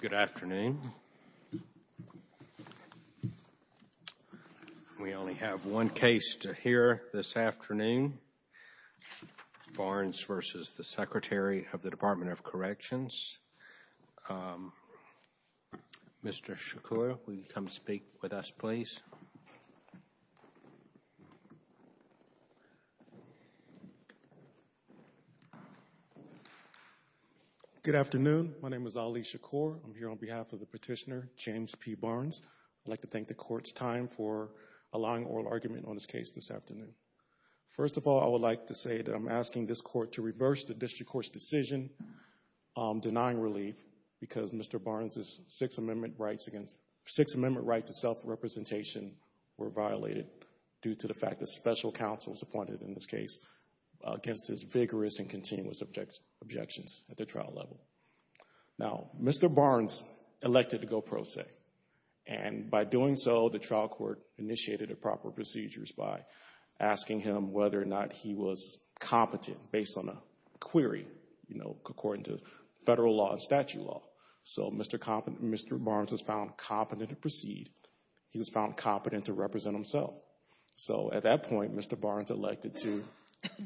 Good afternoon. We only have one case to hear this afternoon. Barnes v. Secretary of the Department of Corrections. Mr. Shakur, will you come speak with us, please? Good afternoon, my name is Ali Shakur. I'm here on behalf of the petitioner, James P. Barnes. I'd like to thank the Court's time for allowing oral argument on this case this afternoon. First of all, I would like to say that I'm asking this Court to reverse the district court's decision denying relief because Mr. Barnes' Sixth Amendment right to self-representation were violated due to the fact that special counsel was appointed in this case against his vigorous and continuous objections at the trial level. Now, Mr. Barnes elected to go pro se, and by doing so, the trial court initiated the proper procedures by asking him whether or not he was competent based on a query, you know, according to federal law and statute law. So Mr. Barnes was found competent to proceed. He was found competent to represent himself. So at that point, Mr. Barnes elected to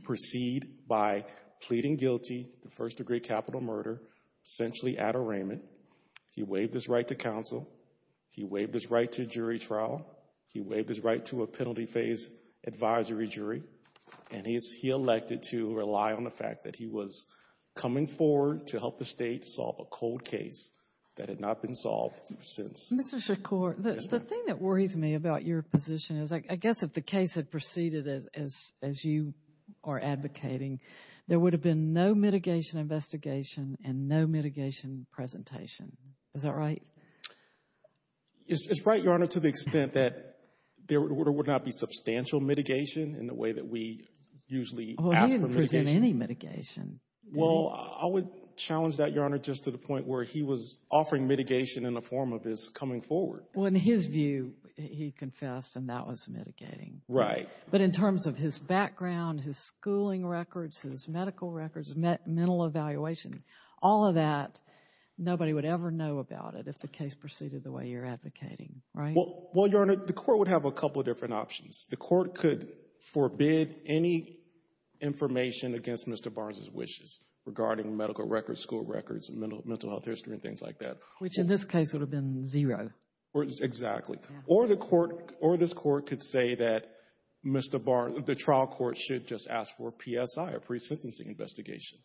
proceed by pleading guilty to first-degree capital murder, essentially at arraignment. He waived his right to counsel. He waived his right to jury trial. He waived his right to a penalty phase advisory jury. And he elected to rely on the fact that he was coming forward to help the state solve a cold case that had not been solved since. Mr. Shakur, the thing that worries me about your position is I guess if the case had proceeded as you are advocating, there would have been no mitigation investigation and no mitigation presentation. Is that right? It's right, Your Honor, to the extent that there would not be substantial mitigation in the way that we usually ask for mitigation. Well, he didn't present any mitigation. Well, I would challenge that, Your Honor, just to the point where he was offering mitigation in the form of his coming forward. Well, in his view, he confessed, and that was mitigating. Right. But in terms of his background, his schooling records, his medical records, mental evaluation, all of that, nobody would ever know about it if the case proceeded the way you're advocating. Right? Well, Your Honor, the court would have a couple of different options. The court could forbid any information against Mr. Barnes' wishes regarding medical records, school records, mental health history, and things like that. Which in this case would have been zero. Exactly. Or this court could say that the trial court should just ask for a PSI, a pre-sentencing investigation.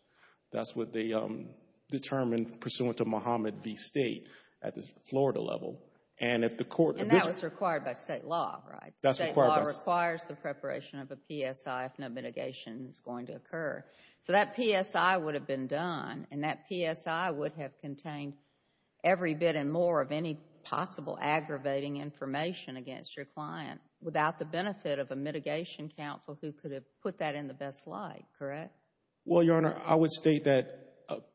That's what they determined pursuant to Muhammad v. State at the Florida level. And that was required by state law, right? State law requires the preparation of a PSI if no mitigation is going to occur. So that PSI would have been done, and that PSI would have contained every bit and more of any possible aggravating information against your client without the benefit of a mitigation counsel who could have put that in the best light, correct? Well, Your Honor, I would state that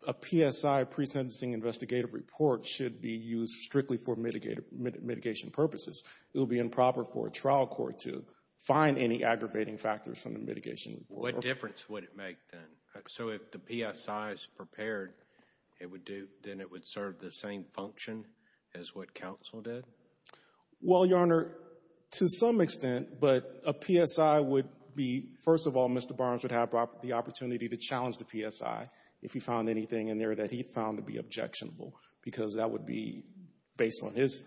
a PSI, pre-sentencing investigative report, should be used strictly for mitigation purposes. It would be improper for a trial court to find any aggravating factors from the mitigation report. What difference would it make then? So if the PSI is prepared, then it would serve the same function as what counsel did? Well, Your Honor, to some extent. But a PSI would be, first of all, Mr. Barnes would have the opportunity to challenge the PSI if he found anything in there that he found to be objectionable, because that would be based on his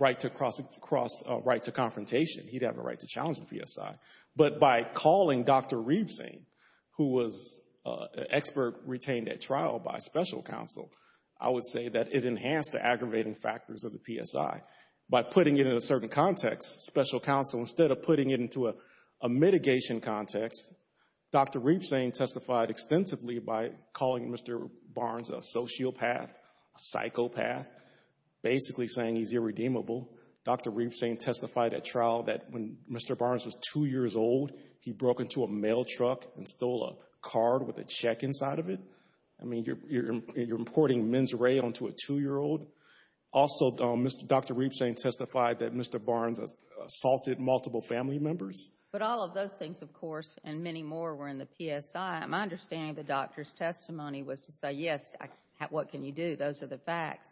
right to confrontation. He'd have a right to challenge the PSI. But by calling Dr. Reevesane, who was an expert retained at trial by special counsel, I would say that it enhanced the aggravating factors of the PSI. By putting it in a certain context, special counsel, instead of putting it into a mitigation context, Dr. Reevesane testified extensively by calling Mr. Barnes a sociopath, a psychopath, basically saying he's irredeemable. Dr. Reevesane testified at trial that when Mr. Barnes was 2 years old, he broke into a mail truck and stole a card with a check inside of it. I mean, you're importing mens rea into a 2-year-old. Also, Dr. Reevesane testified that Mr. Barnes assaulted multiple family members. But all of those things, of course, and many more were in the PSI. My understanding of the doctor's testimony was to say, yes, what can you do? Those are the facts.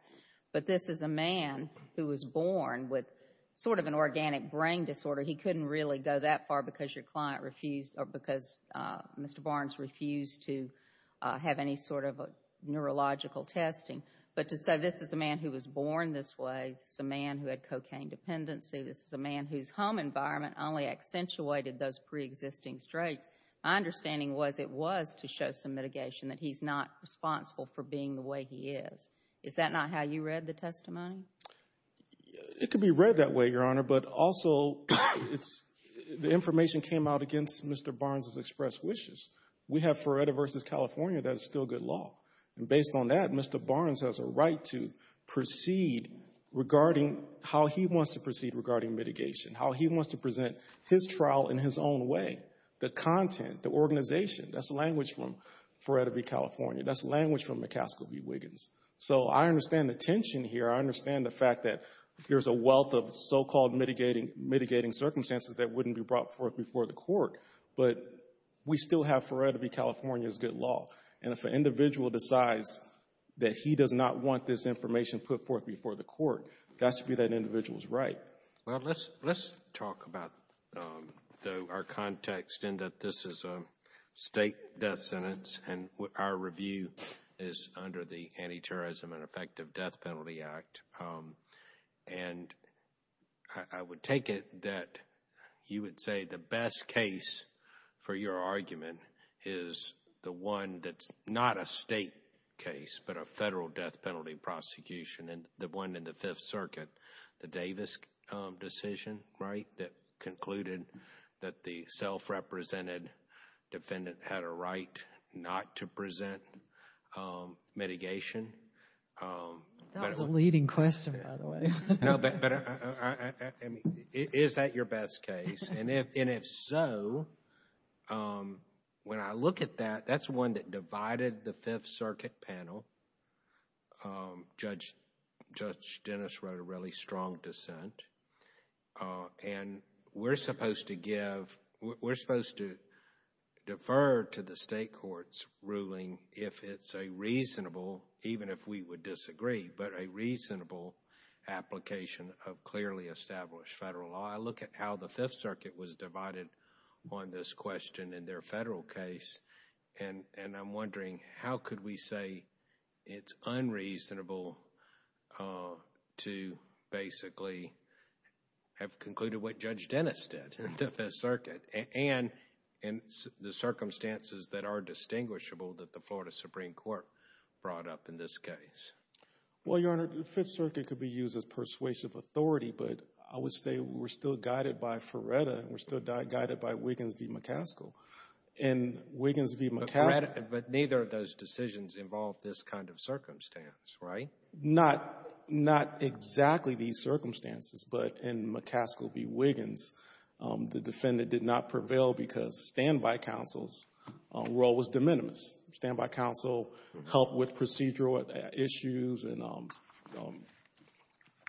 But this is a man who was born with sort of an organic brain disorder. He couldn't really go that far because your client refused or because Mr. Barnes refused to have any sort of neurological testing. But to say this is a man who was born this way, this is a man who had cocaine dependency, this is a man whose home environment only accentuated those preexisting traits, my understanding was it was to show some mitigation, that he's not responsible for being the way he is. Is that not how you read the testimony? It could be read that way, Your Honor. But also, the information came out against Mr. Barnes' expressed wishes. We have Ferretta v. California. That is still good law. And based on that, Mr. Barnes has a right to proceed regarding how he wants to proceed regarding mitigation, how he wants to present his trial in his own way. The content, the organization, that's language from Ferretta v. California. That's language from McCaskill v. Wiggins. So I understand the tension here. I understand the fact that there's a wealth of so-called mitigating circumstances that wouldn't be brought forth before the court. But we still have Ferretta v. California as good law. And if an individual decides that he does not want this information put forth before the court, that should be that individual's right. Well, let's talk about our context in that this is a state death sentence, and our review is under the Anti-Terrorism and Effective Death Penalty Act. And I would take it that you would say the best case for your argument is the one that's not a state case but a federal death penalty prosecution and the one in the Fifth Circuit, the Davis decision, right, that concluded that the self-represented defendant had a right not to present mitigation. That was a leading question, by the way. No, but is that your best case? And if so, when I look at that, that's one that divided the Fifth Circuit panel. Judge Dennis wrote a really strong dissent. And we're supposed to give, we're supposed to defer to the state court's ruling if it's a reasonable, even if we would disagree, but a reasonable application of clearly established federal law. I look at how the Fifth Circuit was divided on this question in their federal case, and I'm wondering how could we say it's unreasonable to basically have concluded what Judge Dennis did in the Fifth Circuit, and in the circumstances that are distinguishable that the Florida Supreme Court brought up in this case. Well, Your Honor, the Fifth Circuit could be used as persuasive authority, but I would say we're still guided by Feretta and we're still guided by Wiggins v. McCaskill. In Wiggins v. McCaskill But neither of those decisions involved this kind of circumstance, right? Not exactly these circumstances, but in McCaskill v. Wiggins, the defendant did not prevail because standby counsel's role was de minimis. Standby counsel helped with procedural issues and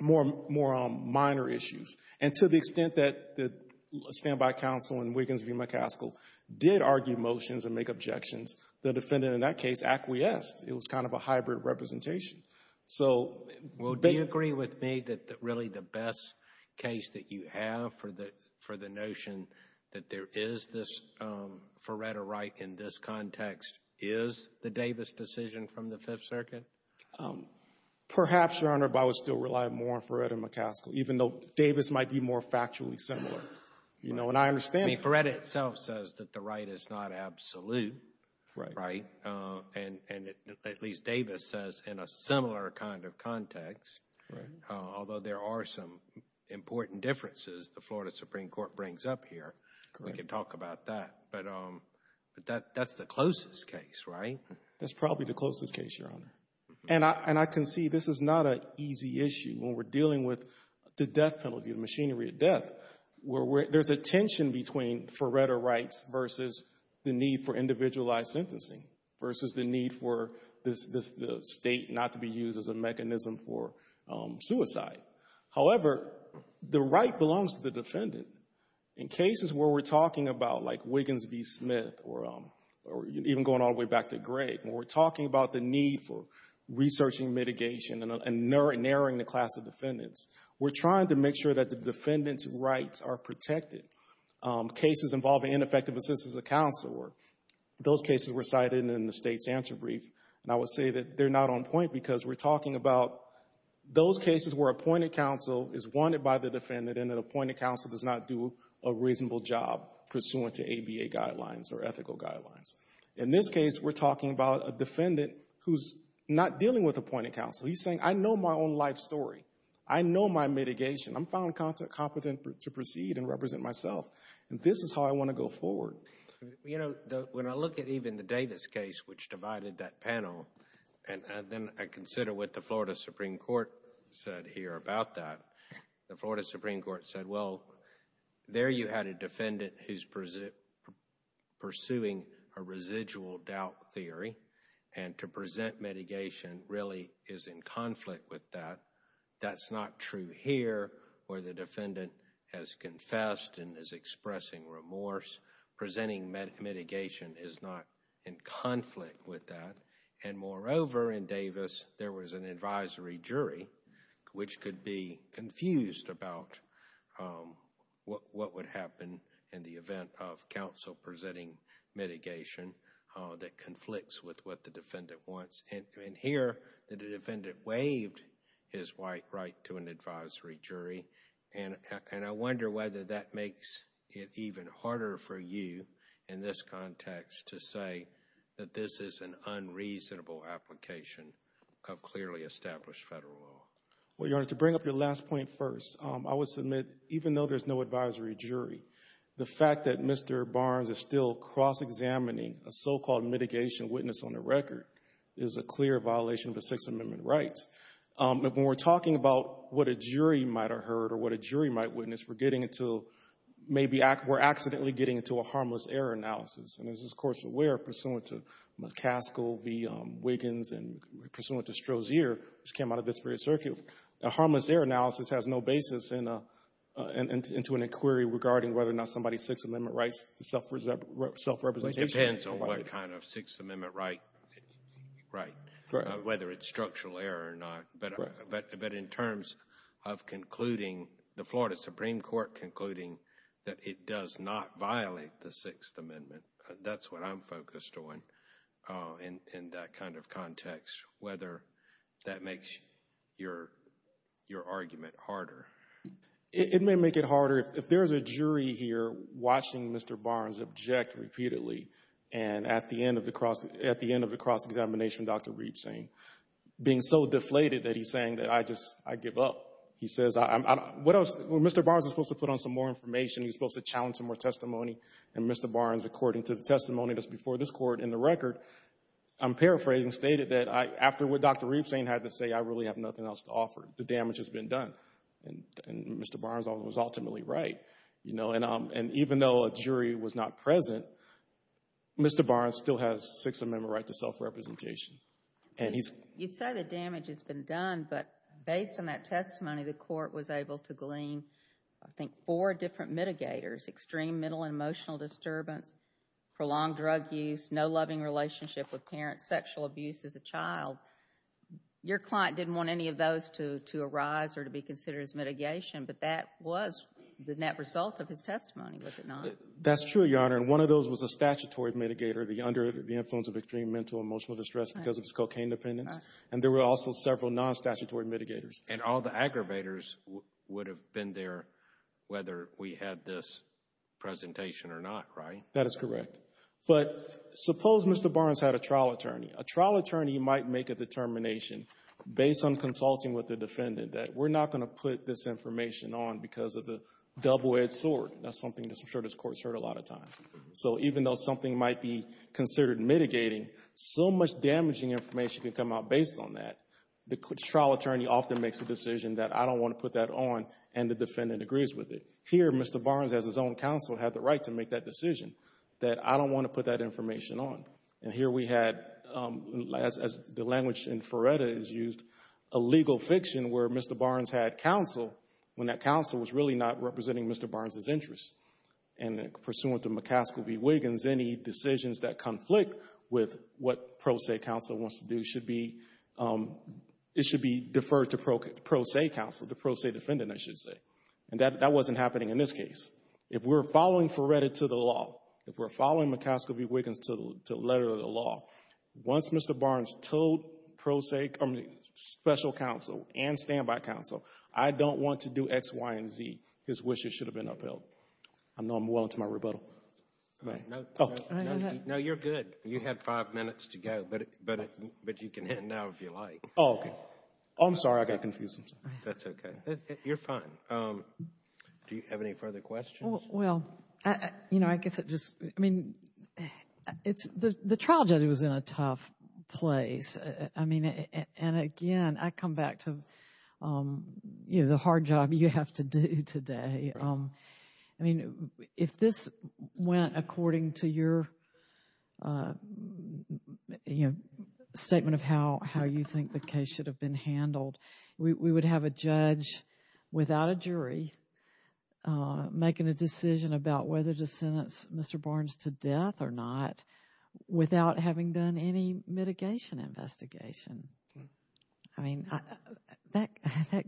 more minor issues. And to the extent that the standby counsel in Wiggins v. McCaskill did argue motions and make objections, the defendant in that case acquiesced. It was kind of a hybrid representation. Well, do you agree with me that really the best case that you have for the notion that there is this Feretta right in this context is the Davis decision from the Fifth Circuit? Perhaps, Your Honor, but I would still rely more on Feretta and McCaskill, even though Davis might be more factually similar. And I understand that. Feretta itself says that the right is not absolute, right? And at least Davis says in a similar kind of context, although there are some important differences, the Florida Supreme Court brings up here. We can talk about that. But that's the closest case, right? That's probably the closest case, Your Honor. And I can see this is not an easy issue when we're dealing with the death penalty, the machinery of death. There's a tension between Feretta rights versus the need for individualized sentencing versus the need for the state not to be used as a mechanism for suicide. However, the right belongs to the defendant. In cases where we're talking about, like Wiggins v. Smith or even going all the way back to Greg, when we're talking about the need for researching mitigation and narrowing the class of defendants, we're trying to make sure that the defendant's rights are protected. Cases involving ineffective assistance of counsel, those cases were cited in the state's answer brief. And I would say that they're not on point because we're talking about those cases where appointed counsel is wanted by the defendant and that appointed counsel does not do a reasonable job pursuant to ABA guidelines or ethical guidelines. In this case, we're talking about a defendant who's not dealing with appointed counsel. He's saying, I know my own life story. I know my mitigation. I'm found competent to proceed and represent myself. And this is how I want to go forward. You know, when I look at even the Davis case, which divided that panel, and then I consider what the Florida Supreme Court said here about that, the Florida Supreme Court said, well, there you had a defendant who's pursuing a residual doubt theory, and to present mitigation really is in conflict with that. That's not true here where the defendant has confessed and is expressing remorse. Presenting mitigation is not in conflict with that. And moreover, in Davis, there was an advisory jury which could be confused about what would happen in the event of counsel presenting mitigation that conflicts with what the defendant wants. And here the defendant waived his right to an advisory jury. And I wonder whether that makes it even harder for you in this context to say that this is an unreasonable application of clearly established federal law. Well, Your Honor, to bring up your last point first, I would submit even though there's no advisory jury, the fact that Mr. Barnes is still cross-examining a so-called mitigation witness on the record is a clear violation of the Sixth Amendment rights. But when we're talking about what a jury might have heard or what a jury might witness, we're getting into maybe we're accidentally getting into a harmless error analysis. And as this Court is aware, pursuant to McCaskill v. Wiggins and pursuant to Strozier, which came out of this period of circuit, a harmless error analysis has no basis into an inquiry regarding whether or not somebody's Sixth Amendment rights is self-representation. It depends on what kind of Sixth Amendment right, whether it's structural error or not. But in terms of concluding, the Florida Supreme Court concluding that it does not violate the Sixth Amendment, that's what I'm focused on in that kind of context, whether that makes your argument harder. It may make it harder. If there's a jury here watching Mr. Barnes object repeatedly and at the end of the cross-examination, Dr. Reed saying, being so deflated that he's saying that I just, I give up. He says, Mr. Barnes is supposed to put on some more information. He's supposed to challenge some more testimony. And Mr. Barnes, according to the testimony that's before this Court in the record, I'm paraphrasing, stated that after what Dr. Reed was saying, he had to say, I really have nothing else to offer. The damage has been done. And Mr. Barnes was ultimately right. And even though a jury was not present, Mr. Barnes still has Sixth Amendment right to self-representation. You say the damage has been done, but based on that testimony, the Court was able to glean, I think, four different mitigators, extreme mental and emotional disturbance, prolonged drug use, no loving relationship with parents, sexual abuse as a child. Your client didn't want any of those to arise or to be considered as mitigation, but that was the net result of his testimony, was it not? That's true, Your Honor. And one of those was a statutory mitigator, the under the influence of extreme mental and emotional distress because of his cocaine dependence. And there were also several non-statutory mitigators. And all the aggravators would have been there whether we had this presentation or not, right? That is correct. But suppose Mr. Barnes had a trial attorney. A trial attorney might make a determination based on consulting with the defendant that we're not going to put this information on because of the double-edged sword. That's something I'm sure this Court has heard a lot of times. So even though something might be considered mitigating, so much damaging information could come out based on that. The trial attorney often makes a decision that I don't want to put that on, and the defendant agrees with it. Here Mr. Barnes, as his own counsel, had the right to make that decision that I don't want to put that information on. And here we had, as the language in Feretta is used, a legal fiction where Mr. Barnes had counsel when that counsel was really not representing Mr. Barnes's interests. And pursuant to McCaskill v. Wiggins, any decisions that conflict with what pro se counsel wants to do should be deferred to pro se counsel, the pro se defendant, I should say. And that wasn't happening in this case. If we're following Feretta to the law, if we're following McCaskill v. Wiggins to the letter of the law, once Mr. Barnes told special counsel and standby counsel, I don't want to do X, Y, and Z, his wishes should have been upheld. I know I'm well into my rebuttal. No, you're good. You had five minutes to go, but you can end now if you like. Oh, okay. I'm sorry, I got confused. That's okay. You're fine. Do you have any further questions? Well, you know, I guess it just, I mean, the trial judge was in a tough place. I mean, and again, I come back to, you know, the hard job you have to do today. I mean, if this went according to your statement of how you think the case should have been handled, we would have a judge without a jury making a decision about whether to sentence Mr. Barnes to death or not without having done any mitigation investigation. I mean, that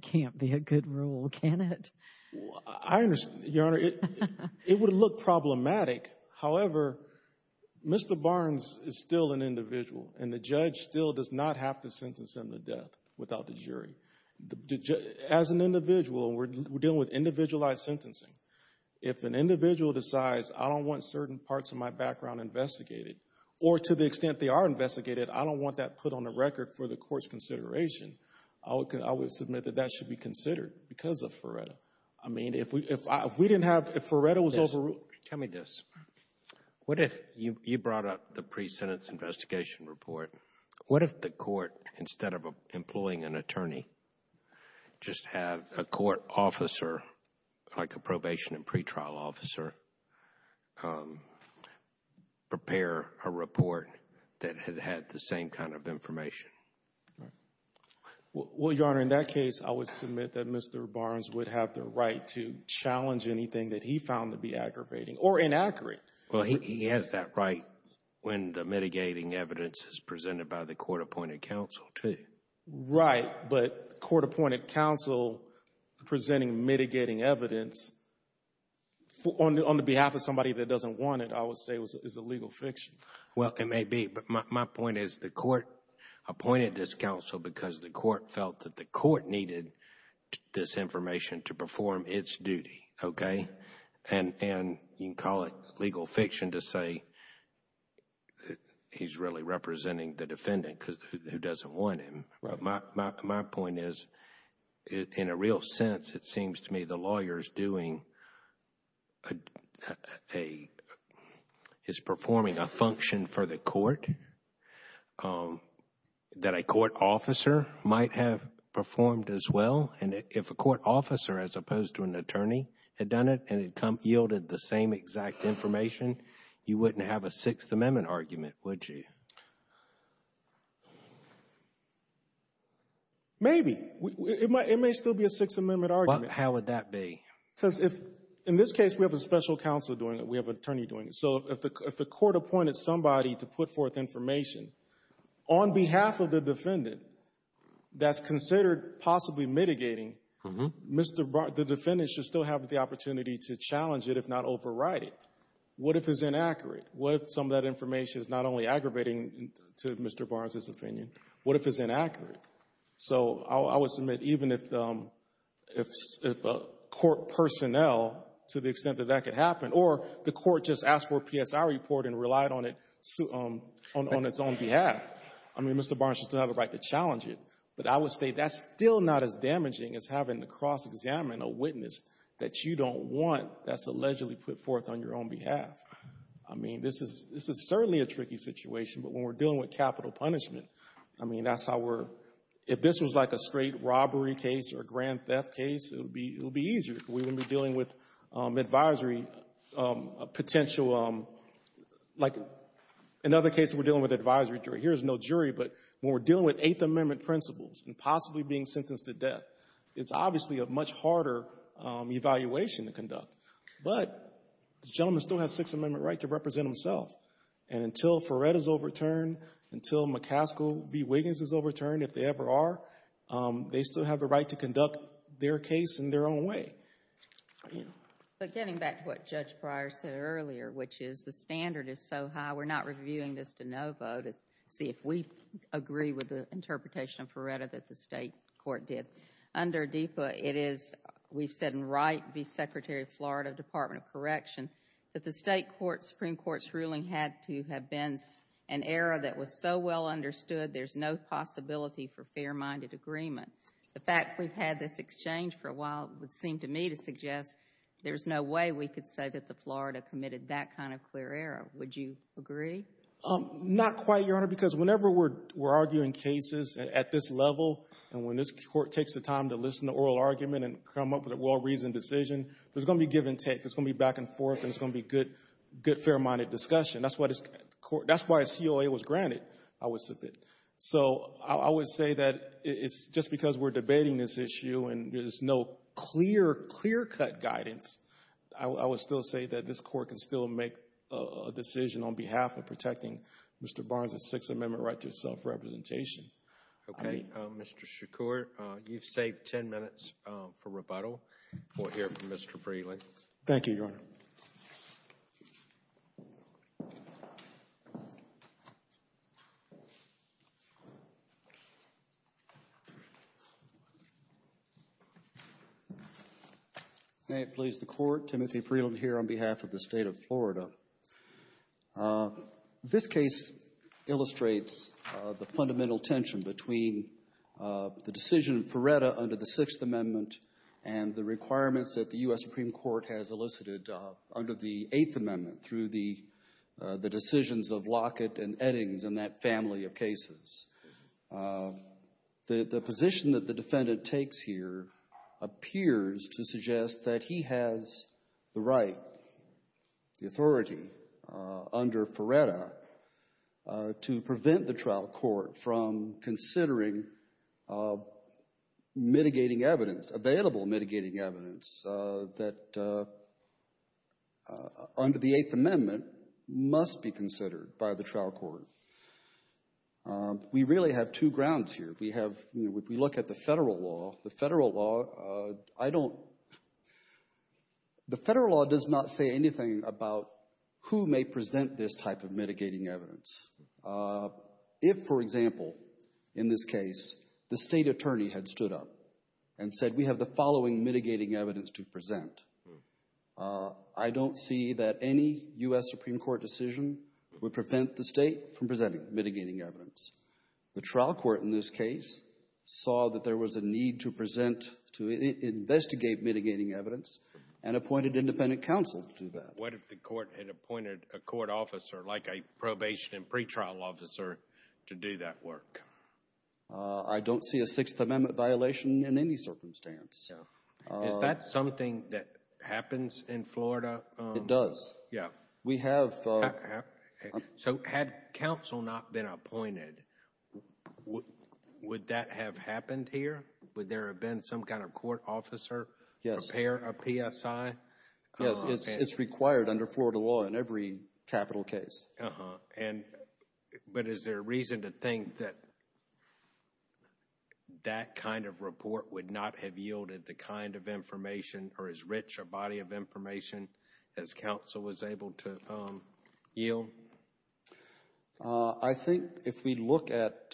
can't be a good rule, can it? I understand, Your Honor. It would look problematic. However, Mr. Barnes is still an individual, and the judge still does not have to sentence him to death without the jury. As an individual, we're dealing with individualized sentencing. If an individual decides I don't want certain parts of my background investigated or to the extent they are investigated, I don't want that put on the record for the court's consideration, I would submit that that should be considered because of Ferretta. I mean, if we didn't have, if Ferretta was overruled. Tell me this. What if you brought up the pre-sentence investigation report? What if the court, instead of employing an attorney, just had a court officer, like a probation and pretrial officer, prepare a report that had had the same kind of information? Well, Your Honor, in that case, I would submit that Mr. Barnes would have the right to challenge anything that he found to be aggravating or inaccurate. Well, he has that right when the mitigating evidence is presented by the court-appointed counsel, too. Right, but court-appointed counsel presenting mitigating evidence on the behalf of somebody that doesn't want it, I would say is a legal fiction. Well, it may be, but my point is the court appointed this counsel because the court felt that the court needed this information to perform its duty, okay? And you can call it legal fiction to say he's really representing the defendant who doesn't want him. My point is, in a real sense, it seems to me the lawyer is performing a function for the court that a court officer might have performed as well. And if a court officer, as opposed to an attorney, had done it and yielded the same exact information, you wouldn't have a Sixth Amendment argument, would you? Maybe. It may still be a Sixth Amendment argument. How would that be? Because in this case, we have a special counsel doing it. We have an attorney doing it. So if the court appointed somebody to put forth information on behalf of the defendant that's considered possibly mitigating, the defendant should still have the opportunity to challenge it, if not override it. What if it's inaccurate? What if some of that information is not only aggravating to Mr. Barnes' opinion? What if it's inaccurate? So I would submit even if a court personnel, to the extent that that could happen, or the court just asked for a PSI report and relied on its own behalf, I mean, Mr. Barnes should still have the right to challenge it. But I would say that's still not as damaging as having to cross-examine a witness that you don't want that's allegedly put forth on your own behalf. I mean, this is certainly a tricky situation, but when we're dealing with capital punishment, I mean, that's how we're, if this was like a straight robbery case or a grand theft case, it would be easier because we wouldn't be dealing with advisory potential, like in other cases we're dealing with advisory jury. Here's no jury, but when we're dealing with Eighth Amendment principles and possibly being sentenced to death, it's obviously a much harder evaluation to conduct. But the gentleman still has Sixth Amendment right to represent himself, and until Ferret is overturned, until McCaskill v. Wiggins is overturned, if they ever are, they still have the right to conduct their case in their own way. But getting back to what Judge Breyer said earlier, which is the standard is so high, we're not reviewing this to no vote to see if we agree with the interpretation of Ferretta that the State Court did. Under DEPA, it is, we've said in Wright v. Secretary of Florida, Department of Correction, that the State Supreme Court's ruling had to have been an error that was so well understood there's no possibility for fair-minded agreement. The fact we've had this exchange for a while would seem to me to suggest there's no way we could say that the Florida committed that kind of clear error. Would you agree? Not quite, Your Honor, because whenever we're arguing cases at this level and when this Court takes the time to listen to oral argument and come up with a well-reasoned decision, there's going to be give and take. There's going to be back and forth, and there's going to be good, fair-minded discussion. That's why a COA was granted, I would submit. So I would say that it's just because we're debating this issue and there's no clear, clear-cut guidance, I would still say that this Court can still make a decision on behalf of protecting Mr. Barnes' Sixth Amendment right to self-representation. Okay. Mr. Shakur, you've saved 10 minutes for rebuttal. We'll hear from Mr. Freeland. Thank you, Your Honor. May it please the Court. Timothy Freeland here on behalf of the State of Florida. This case illustrates the fundamental tension between the decision of Feretta under the Sixth Amendment and the requirements that the U.S. Supreme Court has elicited under the Eighth Amendment through the decisions of Lockett and Eddings and that family of cases. The position that the defendant takes here appears to suggest that he has the right, the authority under Feretta to prevent the trial court from considering mitigating evidence, available mitigating evidence that under the Eighth Amendment must be considered by the trial court. We really have two grounds here. We look at the federal law. I don't – the federal law does not say anything about who may present this type of mitigating evidence. If, for example, in this case, the state attorney had stood up and said, we have the following mitigating evidence to present, I don't see that any U.S. Supreme Court decision would prevent the state from presenting mitigating evidence. The trial court in this case saw that there was a need to present, to investigate mitigating evidence and appointed independent counsel to do that. What if the court had appointed a court officer, like a probation and pretrial officer, to do that work? I don't see a Sixth Amendment violation in any circumstance. Is that something that happens in Florida? It does. Yeah. We have – So had counsel not been appointed, would that have happened here? Would there have been some kind of court officer prepare a PSI? Yes, it's required under Florida law in every capital case. But is there a reason to think that that kind of report would not have yielded the kind of information or as rich a body of information as counsel was able to yield? I think if we look at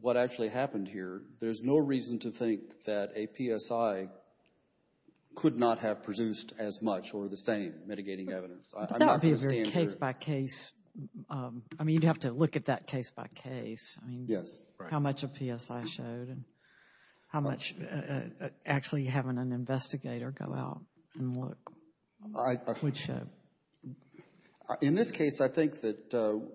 what actually happened here, there's no reason to think that a PSI could not have produced as much or the same mitigating evidence. That would be a very case-by-case – I mean, you'd have to look at that case-by-case. Yes, right. How much a PSI showed and how much actually having an investigator go out and look would show. In this case, I think that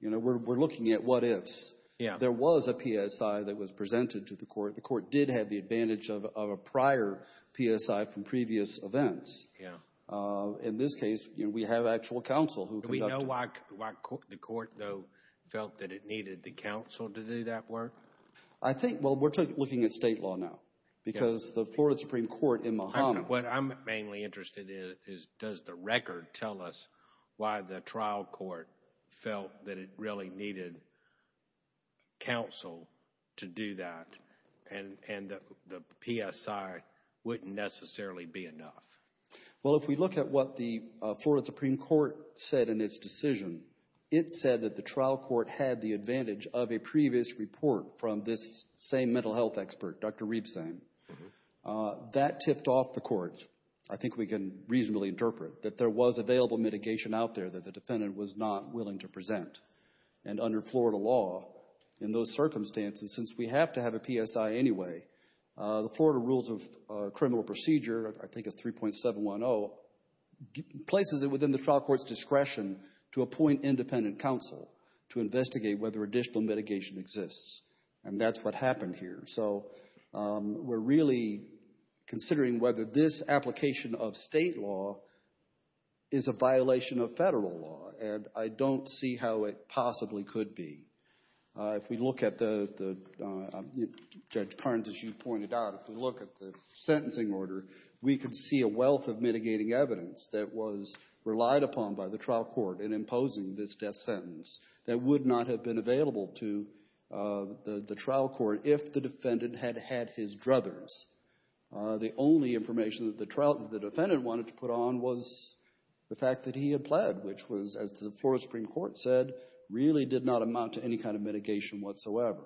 we're looking at what ifs. Yeah. There was a PSI that was presented to the court. The court did have the advantage of a prior PSI from previous events. Yeah. In this case, we have actual counsel who conducted – Do you know why the court, though, felt that it needed the counsel to do that work? I think – well, we're looking at state law now because the Florida Supreme Court in Mahoma – What I'm mainly interested in is does the record tell us why the trial court felt that it really needed counsel to do that and the PSI wouldn't necessarily be enough? Well, if we look at what the Florida Supreme Court said in its decision, it said that the trial court had the advantage of a previous report from this same mental health expert, Dr. Rebsang. That tipped off the court. I think we can reasonably interpret that there was available mitigation out there that the defendant was not willing to present. And under Florida law, in those circumstances, since we have to have a PSI anyway, the Florida Rules of Criminal Procedure, I think it's 3.710, places it within the trial court's discretion to appoint independent counsel to investigate whether additional mitigation exists, and that's what happened here. So we're really considering whether this application of state law is a violation of federal law, and I don't see how it possibly could be. If we look at the, Judge Parnes, as you pointed out, if we look at the sentencing order, we could see a wealth of mitigating evidence that was relied upon by the trial court in imposing this death sentence that would not have been available to the trial court if the defendant had had his druthers. The only information that the defendant wanted to put on was the fact that he had pled, which was, as the Florida Supreme Court said, really did not amount to any kind of mitigation whatsoever.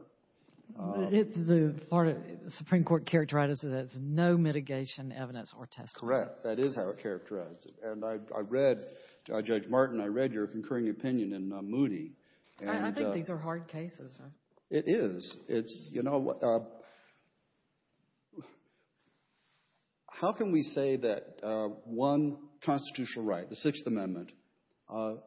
But it's the Florida Supreme Court characterized it as no mitigation evidence or testimony. Correct. That is how it characterized it. And I read, Judge Martin, I read your concurring opinion in Moody. I think these are hard cases. It is. It's, you know, how can we say that one constitutional right, the Sixth Amendment,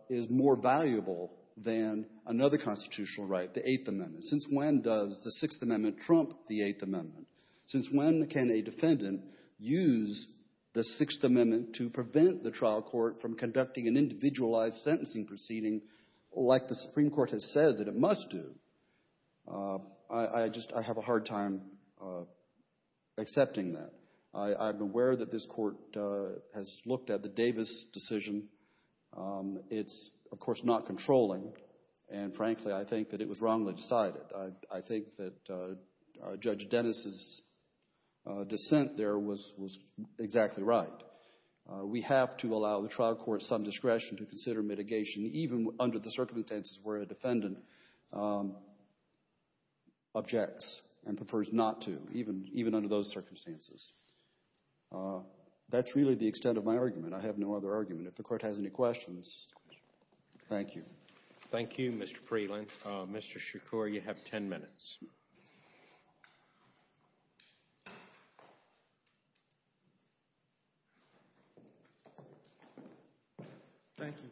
is more valuable than another constitutional right, the Eighth Amendment? Since when does the Sixth Amendment trump the Eighth Amendment? Since when can a defendant use the Sixth Amendment to prevent the trial court from conducting an individualized sentencing proceeding like the Supreme Court has said that it must do? I just have a hard time accepting that. I'm aware that this Court has looked at the Davis decision. It's, of course, not controlling. And, frankly, I think that it was wrongly decided. I think that Judge Dennis's dissent there was exactly right. We have to allow the trial court some discretion to consider mitigation, even under the circumstances where a defendant objects and prefers not to, even under those circumstances. That's really the extent of my argument. I have no other argument. If the Court has any questions, thank you. Thank you, Mr. Freeland. Mr. Shakur, you have ten minutes. Thank you.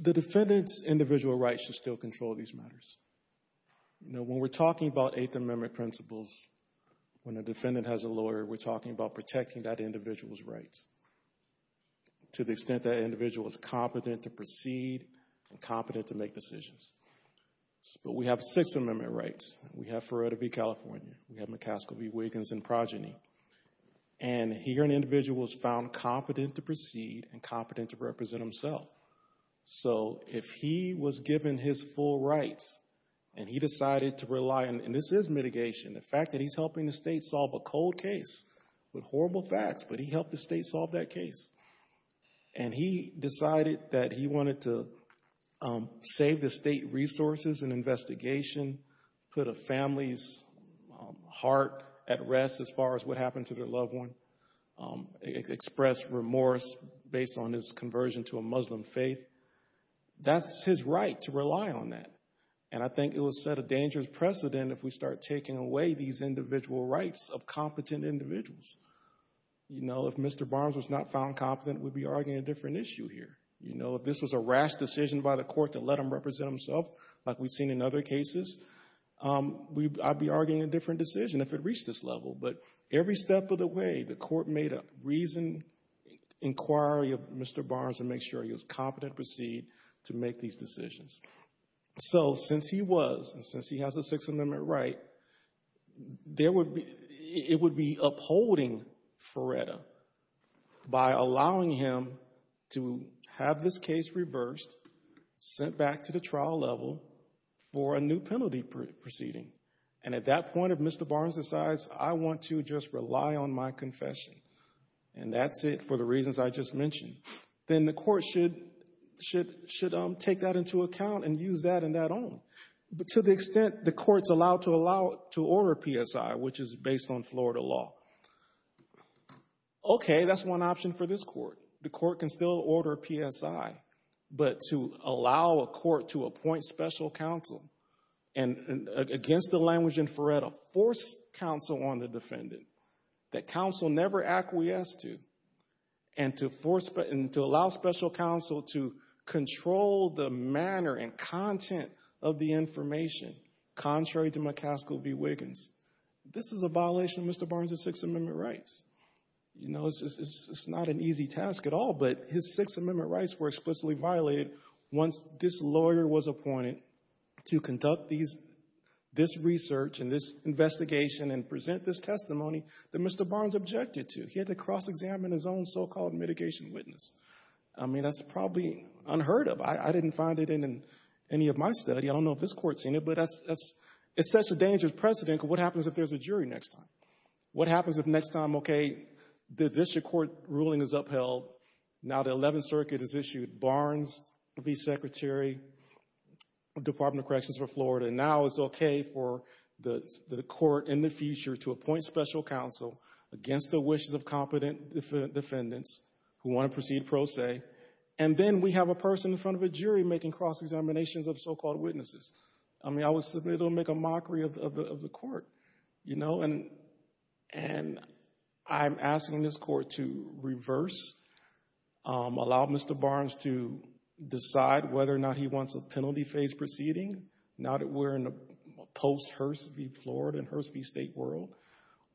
The defendant's individual rights should still control these matters. You know, when we're talking about Eighth Amendment principles, when a defendant has a lawyer, we're talking about protecting that individual's rights to the extent that that individual is competent to proceed and competent to make decisions. But we have Sixth Amendment rights. We have Feretta v. California. We have McCaskill v. Wiggins and progeny. And here an individual was found competent to proceed and competent to represent himself. So if he was given his full rights and he decided to rely, and this is mitigation, the fact that he's helping the state solve a cold case with horrible facts, but he helped the state solve that case, and he decided that he wanted to save the state resources and investigation, put a family's heart at rest as far as what happened to their loved one, express remorse based on his conversion to a Muslim faith, that's his right to rely on that. And I think it would set a dangerous precedent if we start taking away these individual rights of competent individuals. You know, if Mr. Barnes was not found competent, we'd be arguing a different issue here. You know, if this was a rash decision by the court to let him represent himself, like we've seen in other cases, I'd be arguing a different decision if it reached this level. But every step of the way, the court made a reasoned inquiry of Mr. Barnes to make sure he was competent to proceed to make these decisions. So since he was, and since he has a Sixth Amendment right, it would be upholding FRERETA by allowing him to have this case reversed, sent back to the trial level for a new penalty proceeding. And at that point, if Mr. Barnes decides, I want to just rely on my confession and that's it for the reasons I just mentioned, then the court should take that into account and use that in that own. But to the extent the court's allowed to order PSI, which is based on Florida law, okay, that's one option for this court. The court can still order PSI. But to allow a court to appoint special counsel against the language in FRERETA, force counsel on the defendant that counsel never acquiesced to, and to allow special counsel to control the manner and content of the information, contrary to McCaskill v. Wiggins, this is a violation of Mr. Barnes' Sixth Amendment rights. You know, it's not an easy task at all, but his Sixth Amendment rights were explicitly violated once this lawyer was appointed to conduct this research and this investigation and present this testimony that Mr. Barnes objected to. He had to cross-examine his own so-called mitigation witness. I mean, that's probably unheard of. I didn't find it in any of my study. I don't know if this court's seen it, but it's such a dangerous precedent. What happens if there's a jury next time? What happens if next time, okay, the district court ruling is upheld, now the Eleventh Circuit has issued Barnes v. Secretary, Department of Corrections for Florida, and now it's okay for the court in the future to appoint special counsel against the wishes of competent defendants who want to proceed pro se, and then we have a person in front of a jury making cross-examinations of so-called witnesses. I mean, I would simply make a mockery of the court, you know, and I'm asking this court to reverse, allow Mr. Barnes to decide whether or not he wants a penalty phase proceeding, now that we're in a post Hurst v. Florida and Hurst v. State world,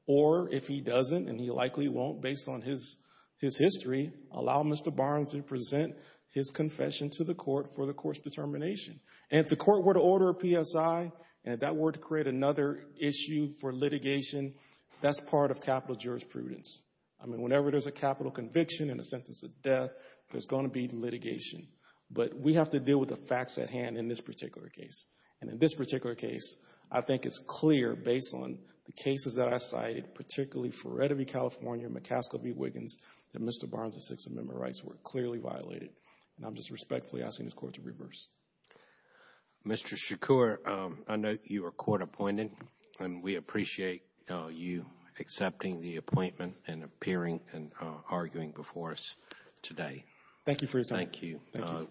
or if he doesn't, and he likely won't based on his history, allow Mr. Barnes to present his confession to the court for the court's determination. And if the court were to order a PSI and that were to create another issue for litigation, that's part of capital jurisprudence. I mean, whenever there's a capital conviction and a sentence of death, there's going to be litigation. But we have to deal with the facts at hand in this particular case. And in this particular case, I think it's clear, based on the cases that I cited, particularly for Redder v. California and McCaskill v. Wiggins, that Mr. Barnes' Sixth Amendment rights were clearly violated. And I'm just respectfully asking this court to reverse. Mr. Shakur, I know you were court appointed, and we appreciate you accepting the appointment and appearing and arguing before us today. Thank you for your time. Thank you.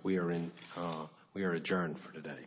We are adjourned for today.